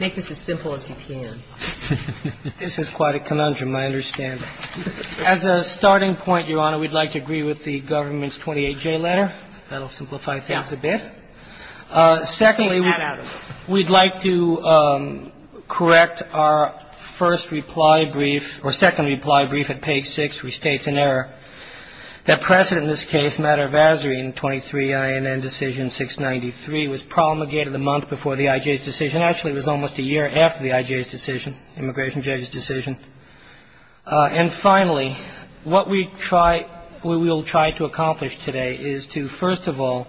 Make this as simple as you can. This is quite a conundrum, I understand. As a starting point, Your Honor, we'd like to agree with the government's 28-J letter. That will simplify things a bit. Secondly, we'd like to correct our first reply brief or second reply brief at page 6, which states in error that precedent in this case, matter of azzurine, 23 INN decision 693, was promulgated a month before the IJ's decision. Actually, it was almost a year after the IJ's decision, immigration judge's decision. And finally, what we will try to accomplish today is to, first of all,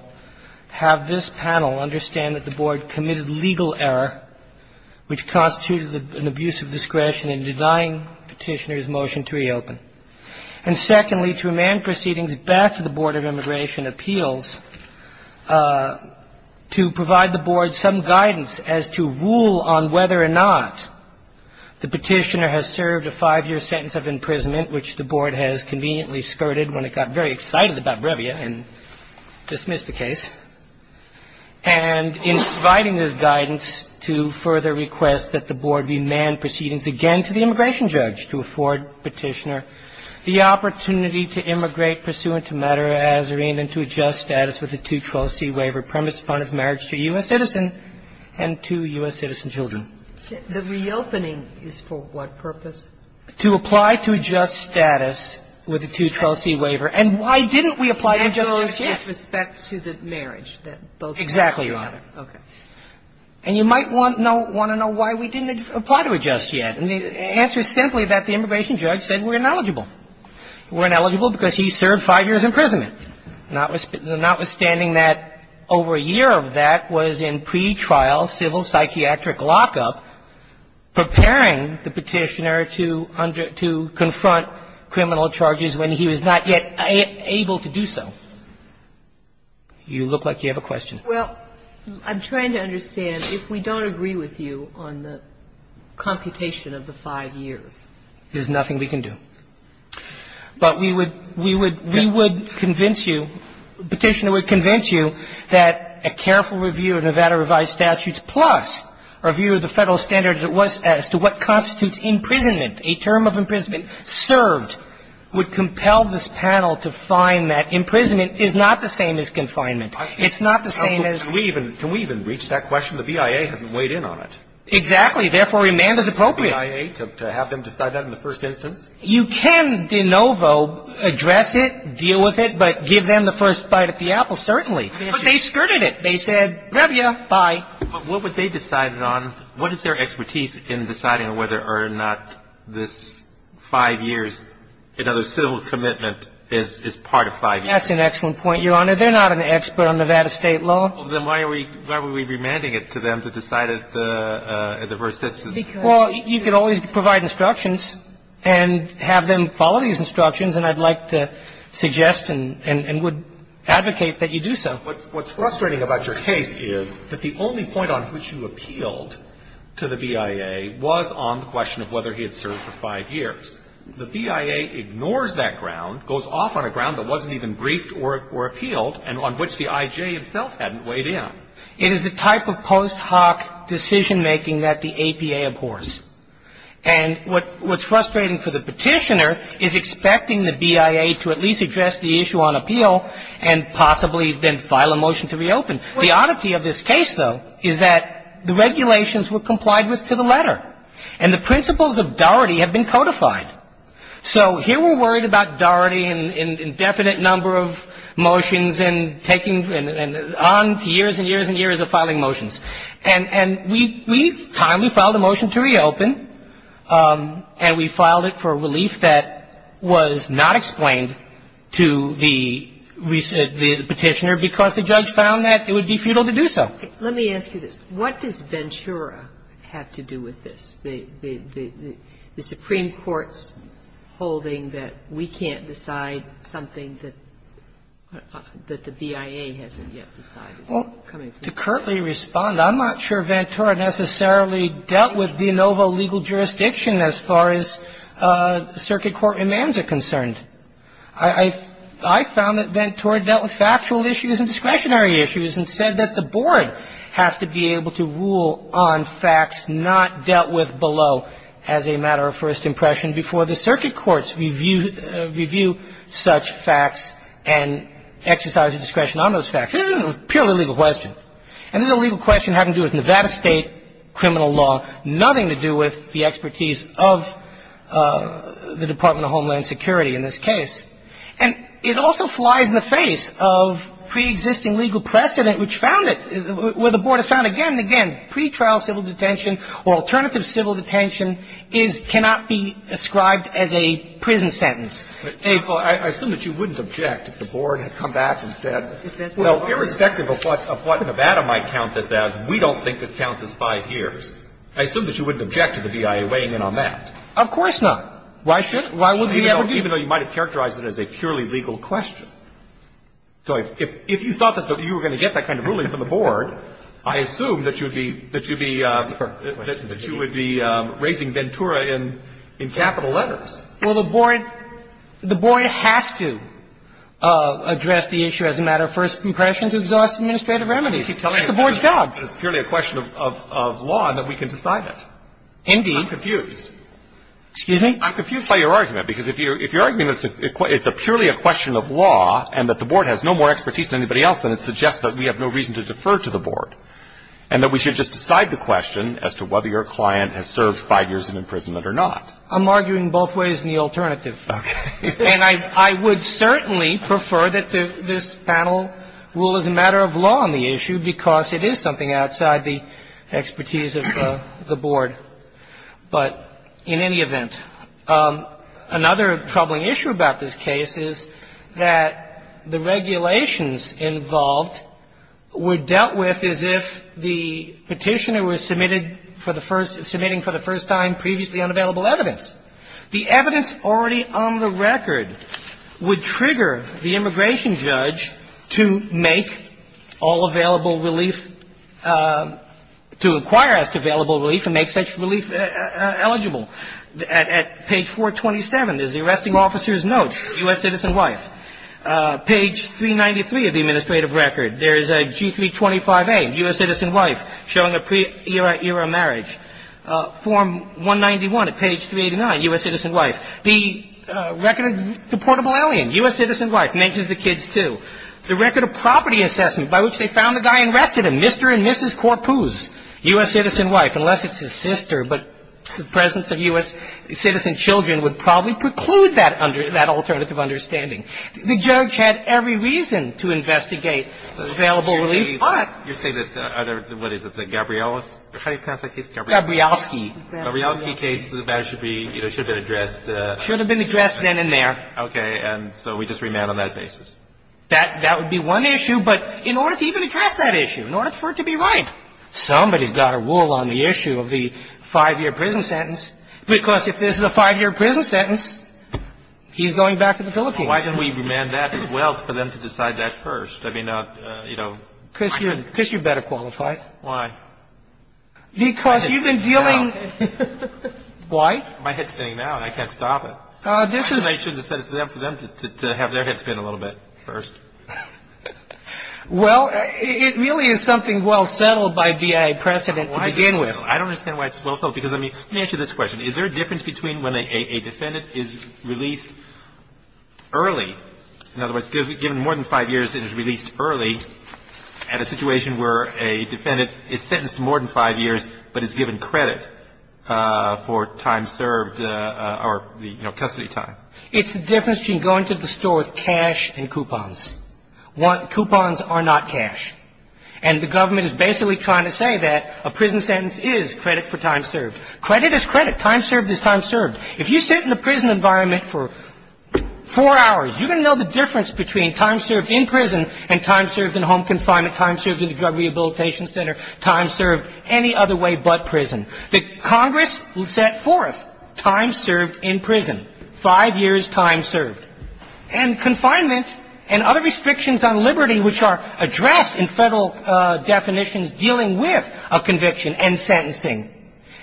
have this panel understand that the board committed legal error, which constituted an abuse of discretion in denying petitioner's motion to reopen. And secondly, to remand proceedings back to the Board of Immigration Appeals to provide the board some guidance as to rule on whether or not the petitioner has served a five-year sentence of imprisonment, which the board has conveniently skirted when it got very excited about Brevia and dismissed the case, and in providing this guidance to further request that the board remand proceedings again to the immigration judge to afford petitioner the opportunity to immigrate pursuant to matter of azzurine and to adjust status with a 212c waiver premised upon his marriage to a U.S. citizen and two U.S. citizen children. The reopening is for what purpose? To apply to adjust status with a 212c waiver. And why didn't we apply to adjust yet? With respect to the marriage. Exactly right. Okay. And you might want to know why we didn't apply to adjust yet. And the answer is simply that the immigration judge said we're ineligible. We're ineligible because he served five years imprisonment, notwithstanding that over a year of that was in pretrial civil psychiatric lockup, preparing the petitioner to confront criminal charges when he was not yet able to do so. You look like you have a question. Well, I'm trying to understand if we don't agree with you on the computation of the five years. There's nothing we can do. But we would convince you, the petitioner would convince you that a careful review of Nevada revised statutes plus a review of the Federal standard as it was as to what constitutes imprisonment, a term of imprisonment served would compel this panel to find that imprisonment is not the same as confinement. It's not the same as Can we even reach that question? The BIA hasn't weighed in on it. Exactly. Therefore, remand is appropriate. The BIA to have them decide that in the first instance? You can de novo address it, deal with it, but give them the first bite of the apple, certainly. But they skirted it. They said, rev you, bye. But what would they decide it on? What is their expertise in deciding whether or not this five years, another civil commitment is part of five years? That's an excellent point, Your Honor. They're not an expert on Nevada state law. Then why are we remanding it to them to decide it at the first instance? Well, you can always provide instructions and have them follow these instructions, and I'd like to suggest and would advocate that you do so. What's frustrating about your case is that the only point on which you appealed to the BIA was on the question of whether he had served for five years. The BIA ignores that ground, goes off on a ground that wasn't even briefed or appealed and on which the I.J. himself hadn't weighed in. It is the type of post hoc decision making that the APA abhors. And what's frustrating for the Petitioner is expecting the BIA to at least address the issue on appeal and possibly then file a motion to reopen. The oddity of this case, though, is that the regulations were complied with to the extent that the Petitioner had not. So here we're worried about doherty and indefinite number of motions and taking on to years and years and years of filing motions. And we've timely filed a motion to reopen, and we filed it for a relief that was not explained to the Petitioner because the judge found that it would be futile to do so. Let me ask you this. What does Ventura have to do with this, the Supreme Court's holding that we can't decide something that the BIA hasn't yet decided? Well, to curtly respond, I'm not sure Ventura necessarily dealt with de novo legal jurisdiction as far as circuit court demands are concerned. I found that Ventura dealt with factual issues and discretionary issues and said that the board has to be able to rule on facts not dealt with below as a matter of first impression before the circuit courts review such facts and exercise discretion on those facts. This is a purely legal question. And this is a legal question having to do with Nevada State criminal law, nothing to do with the expertise of the Department of Homeland Security in this case. And it also flies in the face of preexisting legal precedent which found it, where the board has found again and again, pretrial civil detention or alternative civil detention is, cannot be ascribed as a prison sentence. Well, I assume that you wouldn't object if the board had come back and said, well, irrespective of what Nevada might count this as, we don't think this counts as 5 years. I assume that you wouldn't object to the BIA weighing in on that. Of course not. Why should we? Even though you might have characterized it as a purely legal question. So if you thought that you were going to get that kind of ruling from the board, I assume that you would be raising Ventura in capital letters. Well, the board has to address the issue as a matter of first impression to exhaust administrative remedies. It's the board's job. It's purely a question of law and that we can decide it. Indeed. I'm confused. Excuse me? I'm confused by your argument, because if your argument is it's a purely a question of law and that the board has no more expertise than anybody else, then it suggests that we have no reason to defer to the board and that we should just decide the question as to whether your client has served 5 years in imprisonment or not. I'm arguing both ways in the alternative. Okay. And I would certainly prefer that this panel rule as a matter of law on the issue because it is something outside the expertise of the board. But in any event, another troubling issue about this case is that the regulations involved were dealt with as if the Petitioner was submitted for the first – submitting for the first time previously unavailable evidence. The evidence already on the record would trigger the immigration judge to make all of these amendments. also here on the record, of deportable alien, bullishly eligible at page 427, there's the arresting officer's note, U.S. citizen children would probably preclude that under that alternative understanding. The judge had every reason to investigate the available release, but You're saying that the other, what is it, the Gabriels, how do you pronounce that case? Gabrielsky. Gabrielsky case, that should be, you know, should have been addressed. Should have been addressed then and there. Okay. And so we just remand on that basis. That would be one issue. But in order to even address that issue, in order for it to be right, somebody's got to rule on the issue of the five-year prison sentence, because if this is a five-year prison sentence, he's going back to the Philippines. Why don't we remand that as well for them to decide that first? I mean, you know. Because you're better qualified. Why? Because you've been dealing. Why? My head's spinning now. I can't stop it. This is. I shouldn't have set it up for them to have their head spin a little bit first. Well, it really is something well settled by BIA precedent to begin with. I don't understand why it's well settled. Because, I mean, let me ask you this question. Is there a difference between when a defendant is released early, in other words, given more than five years and is released early, and a situation where a defendant is sentenced to more than five years but is given credit for time served or, you know, custody time? It's the difference between going to the store with cash and coupons. Coupons are not cash. And the government is basically trying to say that a prison sentence is credit for time served. Credit is credit. Time served is time served. If you sit in a prison environment for four hours, you're going to know the difference between time served in prison and time served in home confinement, time served in the Drug Rehabilitation Center, time served any other way but prison. The Congress set forth time served in prison, five years time served. And confinement and other restrictions on liberty which are addressed in Federal definitions dealing with a conviction and sentencing.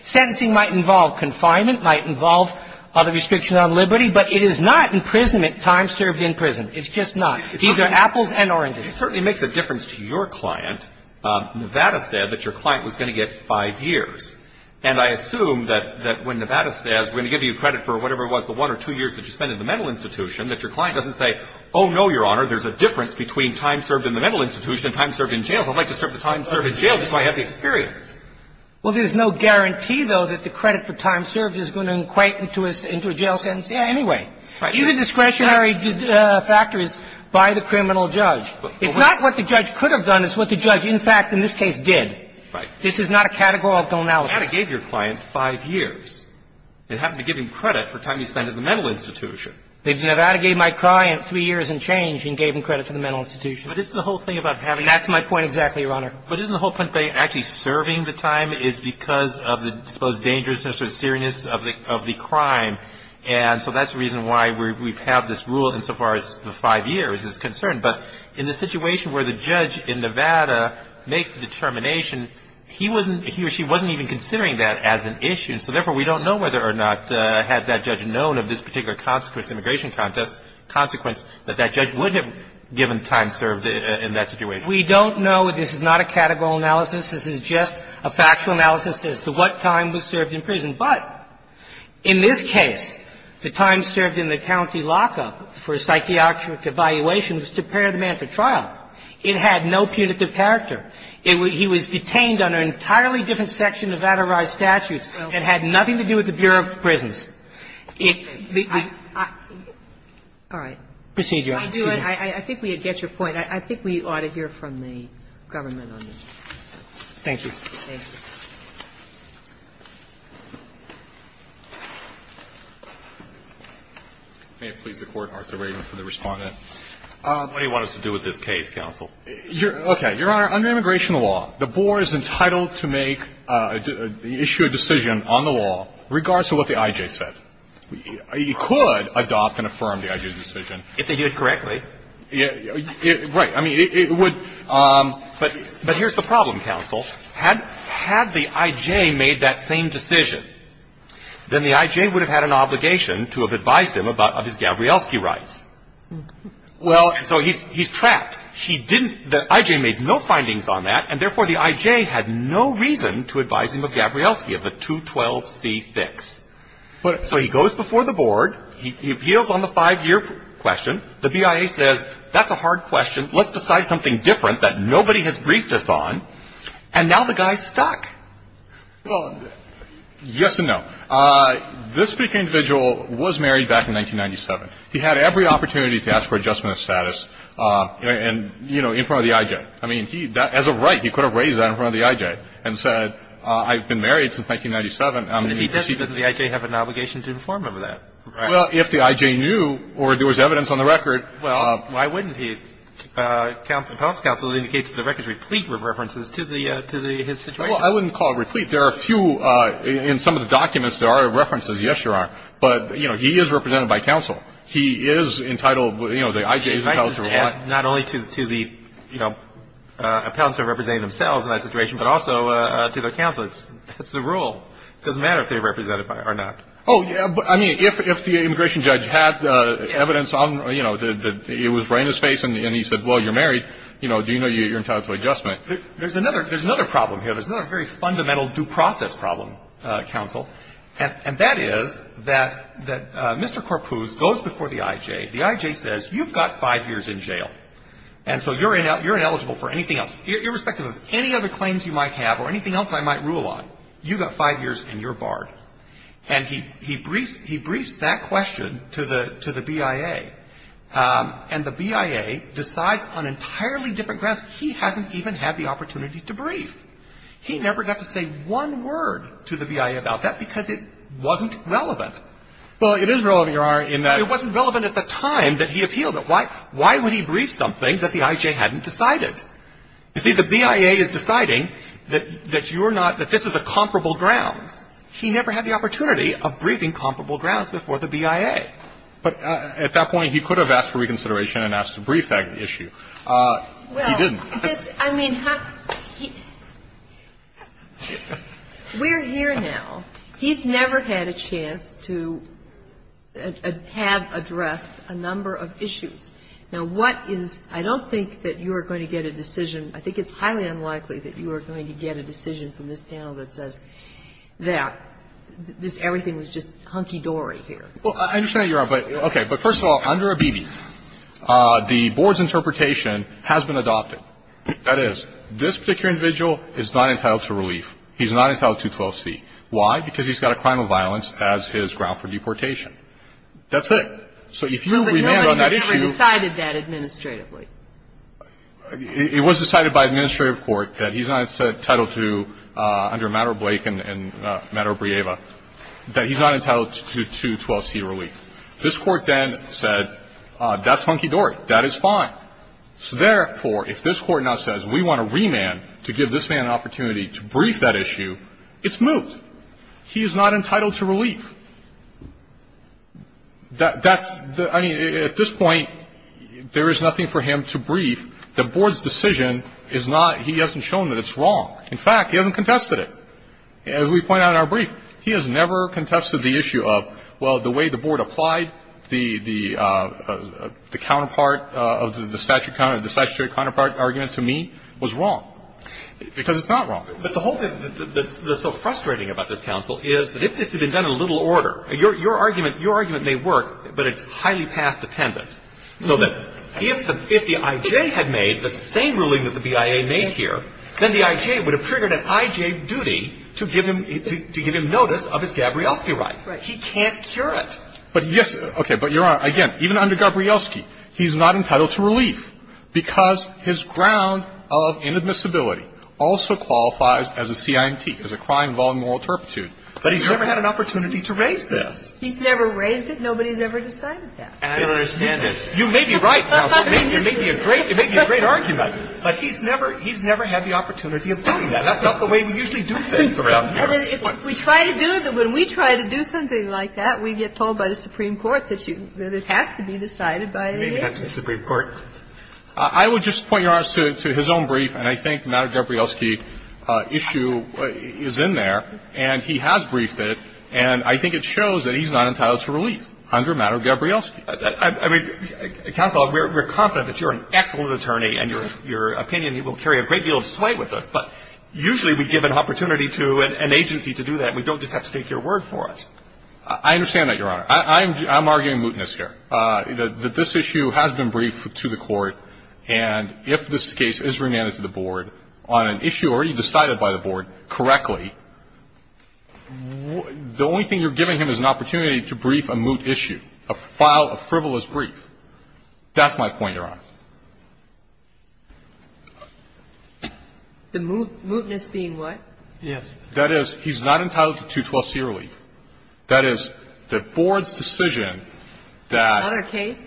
Sentencing might involve confinement, might involve other restrictions on liberty, but it is not imprisonment, time served in prison. It's just not. These are apples and oranges. It certainly makes a difference to your client. Nevada said that your client was going to get five years. And I assume that when Nevada says we're going to give you credit for whatever it was, the one or two years that you spent in the mental institution, that your client doesn't say, oh, no, Your Honor, there's a difference between time served in the mental institution and time served in jail. I'd like to serve the time served in jail just so I have the experience. Well, there's no guarantee, though, that the credit for time served is going to equate into a jail sentence anyway. These are discretionary factors by the criminal judge. It's not what the judge could have done. It's what the judge, in fact, in this case, did. Right. This is not a categorical analysis. Nevada gave your client five years. It happened to give him credit for time he spent in the mental institution. Nevada gave my client three years and change and gave him credit for the mental institution. But isn't the whole thing about having the time served? That's my point exactly, Your Honor. But isn't the whole point about actually serving the time is because of the, I suppose, dangerousness or seriousness of the crime? And so that's the reason why we've had this rule insofar as the five years is concerned. But in the situation where the judge in Nevada makes the determination, he wasn't, he or she wasn't even considering that as an issue. So therefore, we don't know whether or not had that judge known of this particular consequence, immigration consequence, that that judge would have given time served in that situation. We don't know. This is not a categorical analysis. This is just a factual analysis as to what time was served in prison. But in this case, the time served in the county lockup for a psychiatric evaluation was to prepare the man for trial. It had no punitive character. He was detained under an entirely different section of adorized statutes. It had nothing to do with the Bureau of Prisons. It was the... Kagan. All right. Procedure. Excuse me. I think we get your point. I think we ought to hear from the government on this. Thank you. Thank you. May it please the Court, Arthur Radin for the respondent. What do you want us to do with this case, counsel? Okay. Your Honor, under immigration law, the board is entitled to make, issue a decision on the law, regardless of what the I.J. said. It could adopt and affirm the I.J. decision. If they did it correctly. Right. I mean, it would. But here's the problem, counsel. Had the I.J. made that same decision, then the I.J. would have had an obligation to have advised him of his Gabrielski rights. Well, so he's trapped. He didn't... The I.J. made no findings on that, and therefore the I.J. had no reason to advise him of Gabrielski, of the 212C fix. So he goes before the board. He appeals on the five-year question. The BIA says, that's a hard question. Let's decide something different that nobody has briefed us on. And now the guy's stuck. Well, yes and no. This particular individual was married back in 1997. He had every opportunity to ask for adjustment of status and, you know, in front of the I.J. I mean, he, as a right, he could have raised that in front of the I.J. and said, I've been married since 1997. I'm going to proceed... But if he does, doesn't the I.J. have an obligation to inform him of that? Well, if the I.J. knew or there was evidence on the record... Well, why wouldn't he? Appellant's counsel indicates that the record is replete with references to his situation. Well, I wouldn't call it replete. There are a few, in some of the documents, there are references. Yes, there are. But, you know, he is represented by counsel. He is entitled, you know, the I.J. is entitled to reply. Not only to the, you know, appellants are representing themselves in that situation, but also to their counsel. It's the rule. It doesn't matter if they're represented or not. Oh, yeah, but I mean, if the immigration judge had evidence on, you know, that it was right in his face and he said, well, you're married, you know, do you know you're entitled to adjustment? There's another problem here. There's another very fundamental due process problem, counsel, and that is that Mr. Karpuz goes before the I.J. The I.J. says, you've got five years in jail, and so you're ineligible for anything else. Irrespective of any other claims you might have or anything else I might rule on, you've got five years and you're barred. And he briefs that question to the BIA, and the BIA decides on entirely different grounds. He hasn't even had the opportunity to brief. He never got to say one word to the BIA about that because it wasn't relevant. Well, it is relevant, Your Honor, in that. It wasn't relevant at the time that he appealed it. Why would he brief something that the I.J. hadn't decided? You see, the BIA is deciding that you're not, that this is a comparable grounds. He never had the opportunity of briefing comparable grounds before the BIA. But at that point he could have asked for reconsideration and asked to brief that issue. He didn't. Well, I mean, we're here now. He's never had a chance to have addressed a number of issues. Now, what is – I don't think that you are going to get a decision. I think it's highly unlikely that you are going to get a decision from this panel that says that this – everything was just hunky-dory here. Well, I understand that, Your Honor. But, okay. But first of all, under OBB, the board's interpretation has been adopted. That is, this particular individual is not entitled to relief. He's not entitled to 12C. Why? Because he's got a crime of violence as his ground for deportation. That's it. So if you remand on that issue – But no one has ever decided that administratively. It was decided by administrative court that he's not entitled to, under matter of Blake and matter of Brieva, that he's not entitled to 12C relief. This court then said, that's hunky-dory. That is fine. So, therefore, if this court now says we want to remand to give this man an opportunity to brief that issue, it's moot. He is not entitled to relief. That's – I mean, at this point, there is nothing for him to brief. The board's decision is not – he hasn't shown that it's wrong. In fact, he hasn't contested it. As we point out in our brief, he has never contested the issue of, well, the way the board applied the counterpart of the statutory counterpart argument to me was wrong. Because it's not wrong. But the whole thing that's so frustrating about this counsel is that if this had been done in a little order, your argument may work, but it's highly path-dependent. So that if the I.J. had made the same ruling that the BIA made here, then the I.J. would have triggered an I.J. duty to give him notice of his Gabrielski rights. He can't cure it. But, yes – okay, but Your Honor, again, even under Gabrielski, he's not entitled to relief because his ground of inadmissibility also qualifies as a CINT, as a crime involving moral turpitude. But he's never had an opportunity to raise this. He's never raised it. Nobody's ever decided that. And I understand that. You may be right, counsel. It may be a great – it may be a great argument. But he's never – he's never had the opportunity of doing that. That's not the way we usually do things around here. If we try to do – when we try to do something like that, we get told by the Supreme Court that you – that it has to be decided by the I.J. or maybe not the Supreme Court. I would just point, Your Honor, to his own brief. And I think the matter of Gabrielski issue is in there. And he has briefed it. And I think it shows that he's not entitled to relief under a matter of Gabrielski. I mean, counsel, we're confident that you're an excellent attorney and your opinion will carry a great deal of sway with us. But usually we give an opportunity to an agency to do that. We don't just have to take your word for it. I understand that, Your Honor. I'm arguing mootness here. This issue has been briefed to the court. And if this case is remanded to the board on an issue already decided by the board correctly, the only thing you're giving him is an opportunity to brief a moot issue, a frivolous brief. That's my point, Your Honor. The mootness being what? Yes. That is, he's not entitled to 212c relief. That is, the board's decision that the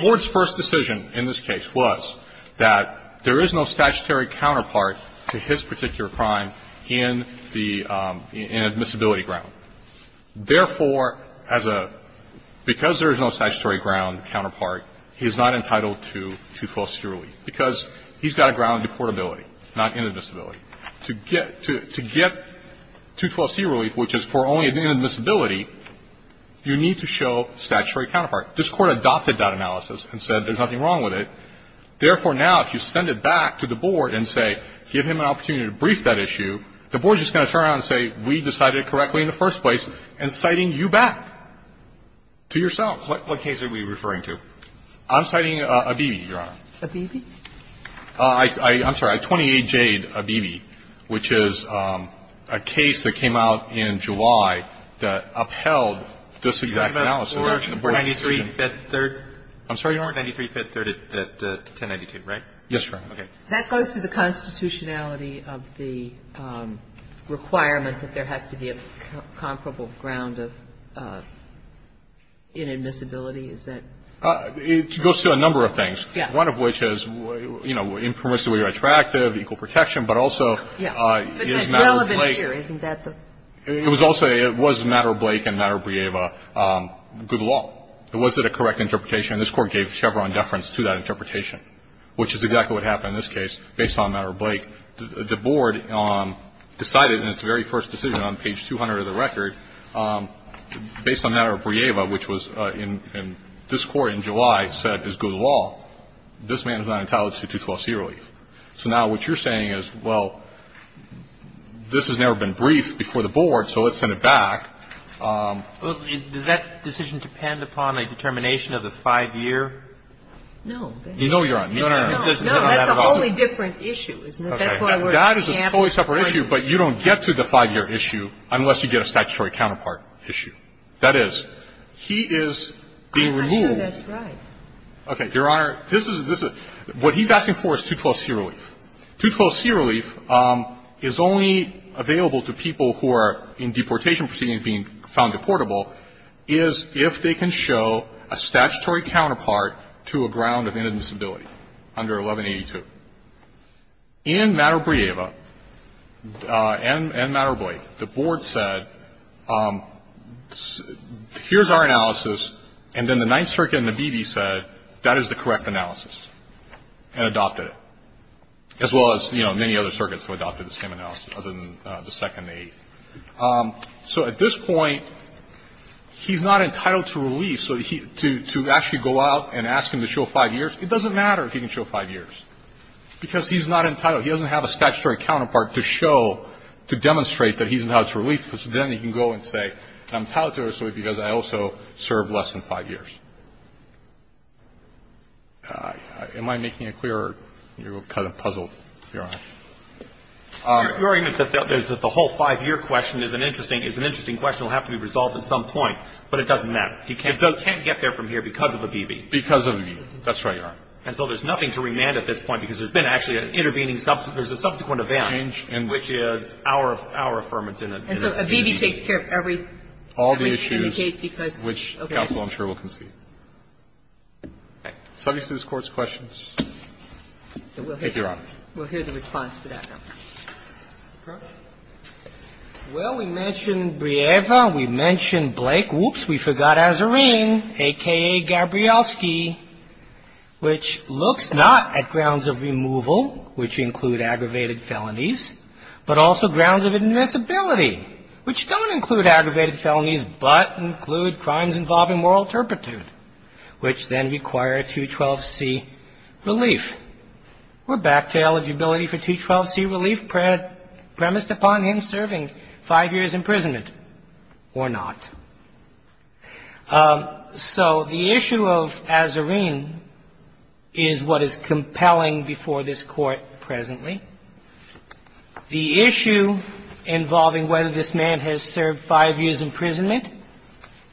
board's first decision in this case was that there is no statutory counterpart to his particular crime in the admissibility ground. Therefore, because there is no statutory ground counterpart, he's not entitled to 212c relief because he's got a ground to portability, not inadmissibility. To get 212c relief, which is for only inadmissibility, you need to show statutory counterpart. This Court adopted that analysis and said there's nothing wrong with it. Therefore, now, if you send it back to the board and say, give him an opportunity to brief that issue, the board is just going to turn around and say, we decided it correctly in the first place, and citing you back to yourself. What case are we referring to? I'm citing Abebe, Your Honor. Abebe? I'm sorry. 28J, Abebe, which is a case that came out in July that upheld this exact analysis. I'm sorry, Your Honor? That goes to the constitutionality of the requirement that there has to be a comparable ground of inadmissibility? Is that? It goes to a number of things. Yes. One of which is, you know, impermissibly retroactive, equal protection, but also is matter of Blake. But that's relevant here. Isn't that the? It was also, it was matter of Blake and matter of Brieva, good law. Was it a correct interpretation? This Court gave Chevron deference to that interpretation, which is exactly what happened in this case based on matter of Blake. The board decided in its very first decision on page 200 of the record, based on matter of Brieva, which was in this Court in July said is good law. This man is not entitled to 212c relief. So now what you're saying is, well, this has never been briefed before the board, so let's send it back. Well, does that decision depend upon a determination of the 5-year? No. No, Your Honor. No, that's a wholly different issue, isn't it? That is a wholly separate issue, but you don't get to the 5-year issue unless you get a statutory counterpart issue. That is, he is being removed. I'm not sure that's right. Okay. Your Honor, this is, this is, what he's asking for is 212c relief. 212c relief is only available to people who are in deportation proceedings being found deportable is if they can show a statutory counterpart to a ground of inadmissibility under 1182. In Marabrieva and Marablie, the board said, here's our analysis, and then the Ninth Circuit and the BB said, that is the correct analysis, and adopted it, as well as, you know, many other circuits who adopted the same analysis, other than the Second Aid. So at this point, he's not entitled to relief. So to actually go out and ask him to show 5 years, it doesn't matter if he can show 5 years, because he's not entitled. He doesn't have a statutory counterpart to show, to demonstrate that he's entitled to relief, because then he can go and say, I'm entitled to it because I also served less than 5 years. Am I making it clear, or are you kind of puzzled, Your Honor? You're arguing that the whole 5-year question is an interesting, is an interesting question that will have to be resolved at some point, but it doesn't matter. He can't get there from here because of the BB. Because of the BB. That's right, Your Honor. And so there's nothing to remand at this point, because there's been actually an intervening subsequent. There's a subsequent event, which is our affirmance in a BB. And so a BB takes care of every issue in the case, because, okay. All the issues, which counsel, I'm sure, will concede. Okay. Subjects to this Court's questions? Thank you, Your Honor. We'll hear the response to that, Your Honor. Well, we mentioned Brieva. We mentioned Blake. Oops, we forgot Azarine, a.k.a. Gabrielski, which looks not at grounds of removal, which include aggravated felonies, but also grounds of admissibility, which don't include aggravated felonies, but include crimes involving moral turpitude, which then require 212C relief. We're back to eligibility for 212C relief premised upon him serving 5 years imprisonment or not. So the issue of Azarine is what is compelling before this Court presently. The issue involving whether this man has served 5 years imprisonment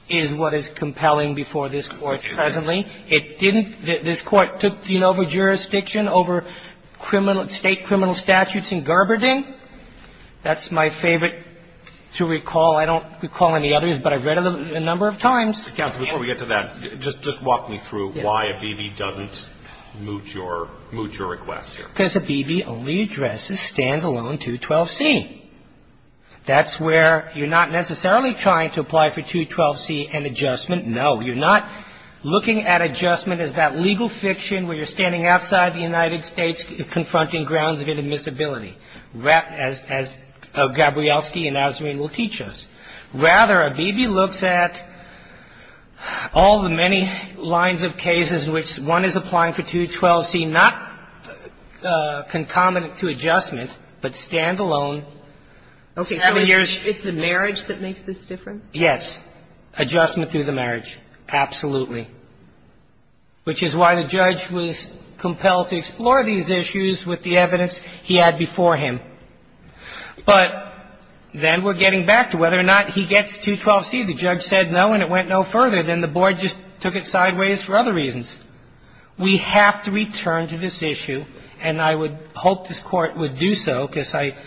is what is compelling before this Court presently. It didn't – this Court took, you know, over jurisdiction, over criminal – state criminal statutes in Gerberding. That's my favorite to recall. I don't recall any others, but I've read it a number of times. Counsel, before we get to that, just walk me through why ABB doesn't moot your request here. Because ABB only addresses standalone 212C. That's where you're not necessarily trying to apply for 212C and adjustment. No. You're not looking at adjustment as that legal fiction where you're standing outside the United States confronting grounds of admissibility. As – as Gabrielski and Azarine will teach us. Rather, ABB looks at all the many lines of cases in which one is applying for 212C, not concomitant to adjustment, but standalone. Seven years – Okay. So it's the marriage that makes this different? Yes. Adjustment through the marriage. Absolutely. And that's why the judge was compelled to explore these issues with the evidence he had before him. But then we're getting back to whether or not he gets 212C. The judge said no, and it went no further. Then the Board just took it sideways for other reasons. We have to return to this issue, and I would hope this Court would do so, because I –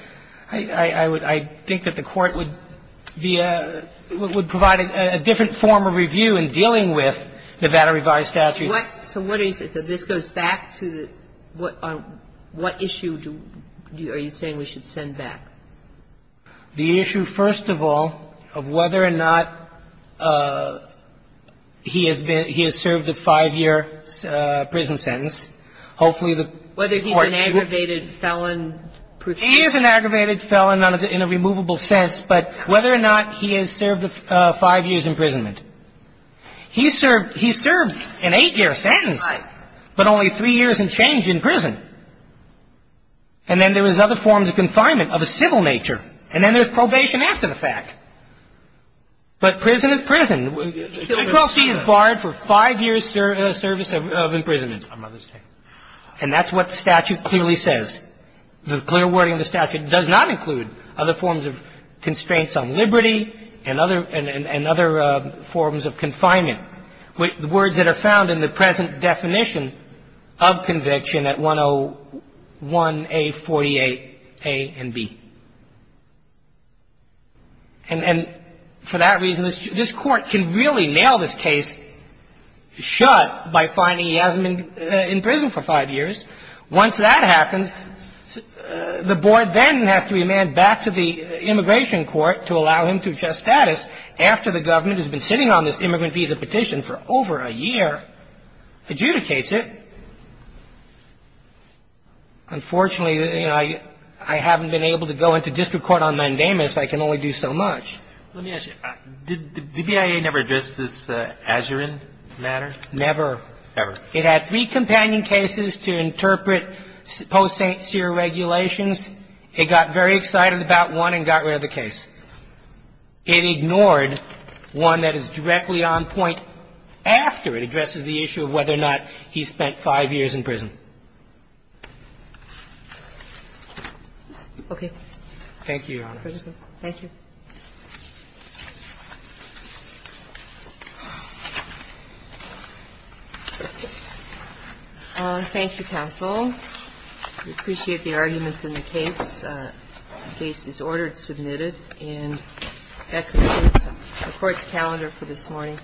I would – I think that the Court would be a – would provide a different form of review in dealing with Nevada revised statutes. What – so what are you saying? So this goes back to the – what – on what issue do – are you saying we should send back? The issue, first of all, of whether or not he has been – he has served a 5-year prison sentence. Hopefully, the Court – Whether he's an aggravated felon. He is an aggravated felon in a removable sense, but whether or not he has served a 5-years imprisonment. He served – he served an 8-year sentence. Right. But only 3 years and changed in prison. And then there was other forms of confinement of a civil nature. And then there's probation after the fact. But prison is prison. 212C is barred for 5-years service of imprisonment on Mother's Day. And that's what the statute clearly says. The clear wording of the statute does not include other forms of constraints on liberty and other – and other forms of confinement. The words that are found in the present definition of conviction at 101A48A and B. And for that reason, this Court can really nail this case shut by finding he hasn't been in prison for 5 years. Now, let me ask you this. Once that happens, the board then has to be manned back to the immigration court to allow him to adjust status after the government has been sitting on this immigrant visa petition for over a year, adjudicates it. Unfortunately, you know, I haven't been able to go into district court on mandamus. I can only do so much. Let me ask you. Did the BIA never address this Azurin matter? Never. Never. It had three companion cases to interpret post-Seer regulations. It got very excited about one and got rid of the case. It ignored one that is directly on point after it addresses the issue of whether or not he spent 5 years in prison. Okay. Thank you, Your Honor. Thank you. Thank you, counsel. We appreciate the arguments in the case. The case is ordered and submitted. And that concludes the Court's calendar for this morning.